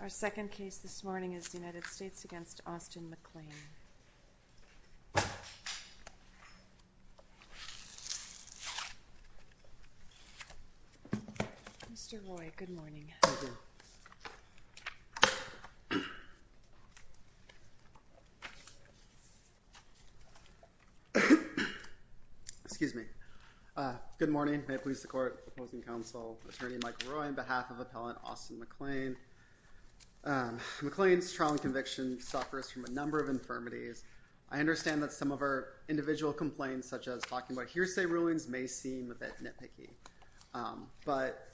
Our second case this morning is the United States v. Auston McLain. Mr. Roy, good morning. Thank you. Excuse me. Good morning. May it please the court. Opposing counsel, attorney Mike Roy on behalf of appellant Auston McLain. McLain's trial and conviction suffers from a number of infirmities. I understand that some of our individual complaints, such as talking about hearsay rulings, may seem a bit nitpicky. But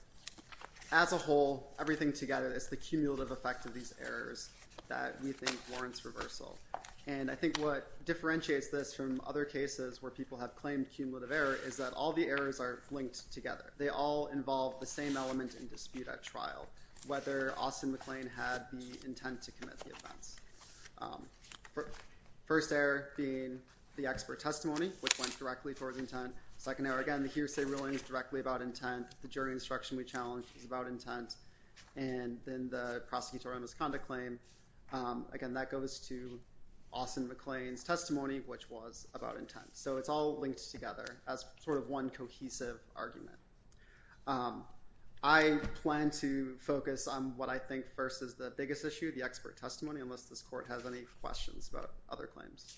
as a whole, everything together is the cumulative effect of these errors that we think warrants reversal. And I think what differentiates this from other cases where people have claimed cumulative error is that all the errors are linked together. They all involve the same element in dispute at trial, whether Auston McLain had the intent to commit the offense. First error being the expert testimony, which went directly towards intent. Second error, again, the hearsay ruling is directly about intent. The jury instruction we challenged is about intent. And then the prosecutorial misconduct claim. Again, that goes to Auston McLain's testimony, which was about intent. So it's all linked together as sort of one cohesive argument. I plan to focus on what I think first is the biggest issue, the expert testimony, unless this court has any questions about other claims.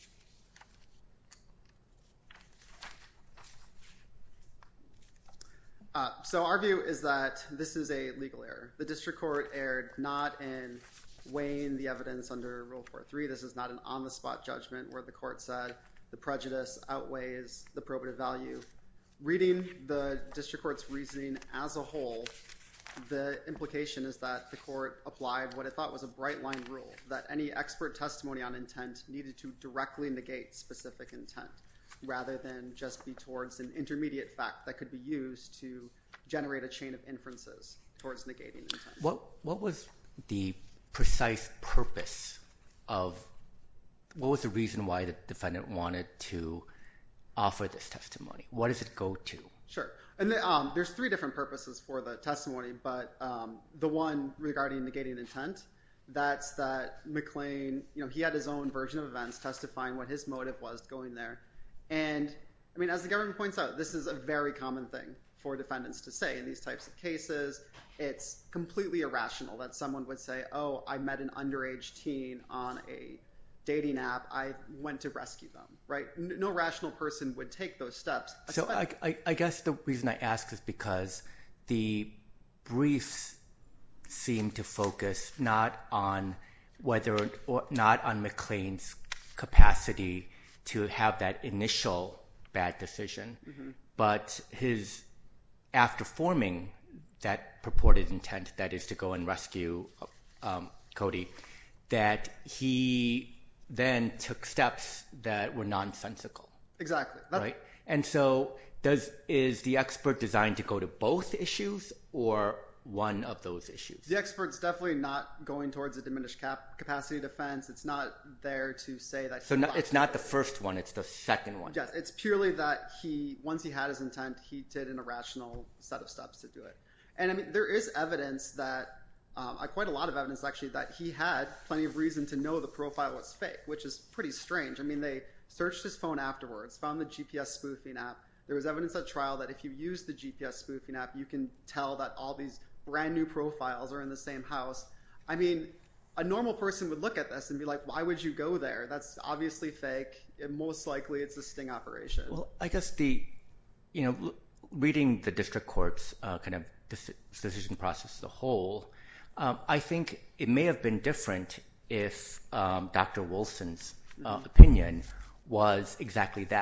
So our view is that this is a legal error. The district court erred not in weighing the evidence under Rule 4.3. This is not an on-the-spot judgment where the court said the prejudice outweighs the probative value. Reading the district court's reasoning as a whole, the implication is that the court applied what I thought was a bright-line rule, that any expert testimony on intent needed to directly negate specific intent, rather than just be towards an intermediate fact that could be used to generate a chain of inferences towards negating intent. What was the precise purpose of—what was the reason why the defendant wanted to offer this testimony? What does it go to? Sure. And there's three different purposes for the testimony, but the one regarding negating intent, that's that McLain, you know, he had his own version of events testifying what his motive was going there. And, I mean, as the government points out, this is a very common thing for defendants to say in these types of cases. It's completely irrational that someone would say, oh, I met an underage teen on a dating app. I went to rescue them, right? No rational person would take those steps. So I guess the reason I ask is because the briefs seem to focus not on whether— not on McLain's capacity to have that initial bad decision, but his—after forming that purported intent, that is to go and rescue Cody, that he then took steps that were nonsensical. Exactly. Right? And so does—is the expert designed to go to both issues or one of those issues? The expert's definitely not going towards a diminished capacity defense. It's not there to say that— So it's not the first one. It's the second one. Yes. It's purely that he—once he had his intent, he did an irrational set of steps to do it. And, I mean, there is evidence that—quite a lot of evidence, actually, that he had plenty of reason to know the profile was fake, which is pretty strange. I mean, they searched his phone afterwards, found the GPS spoofing app. There was evidence at trial that if you use the GPS spoofing app, you can tell that all these brand-new profiles are in the same house. I mean, a normal person would look at this and be like, why would you go there? That's obviously fake, and most likely it's a sting operation. Well, I guess the—you know, reading the district court's kind of decision process as a whole, I think it may have been different if Dr. Wilson's opinion was exactly that.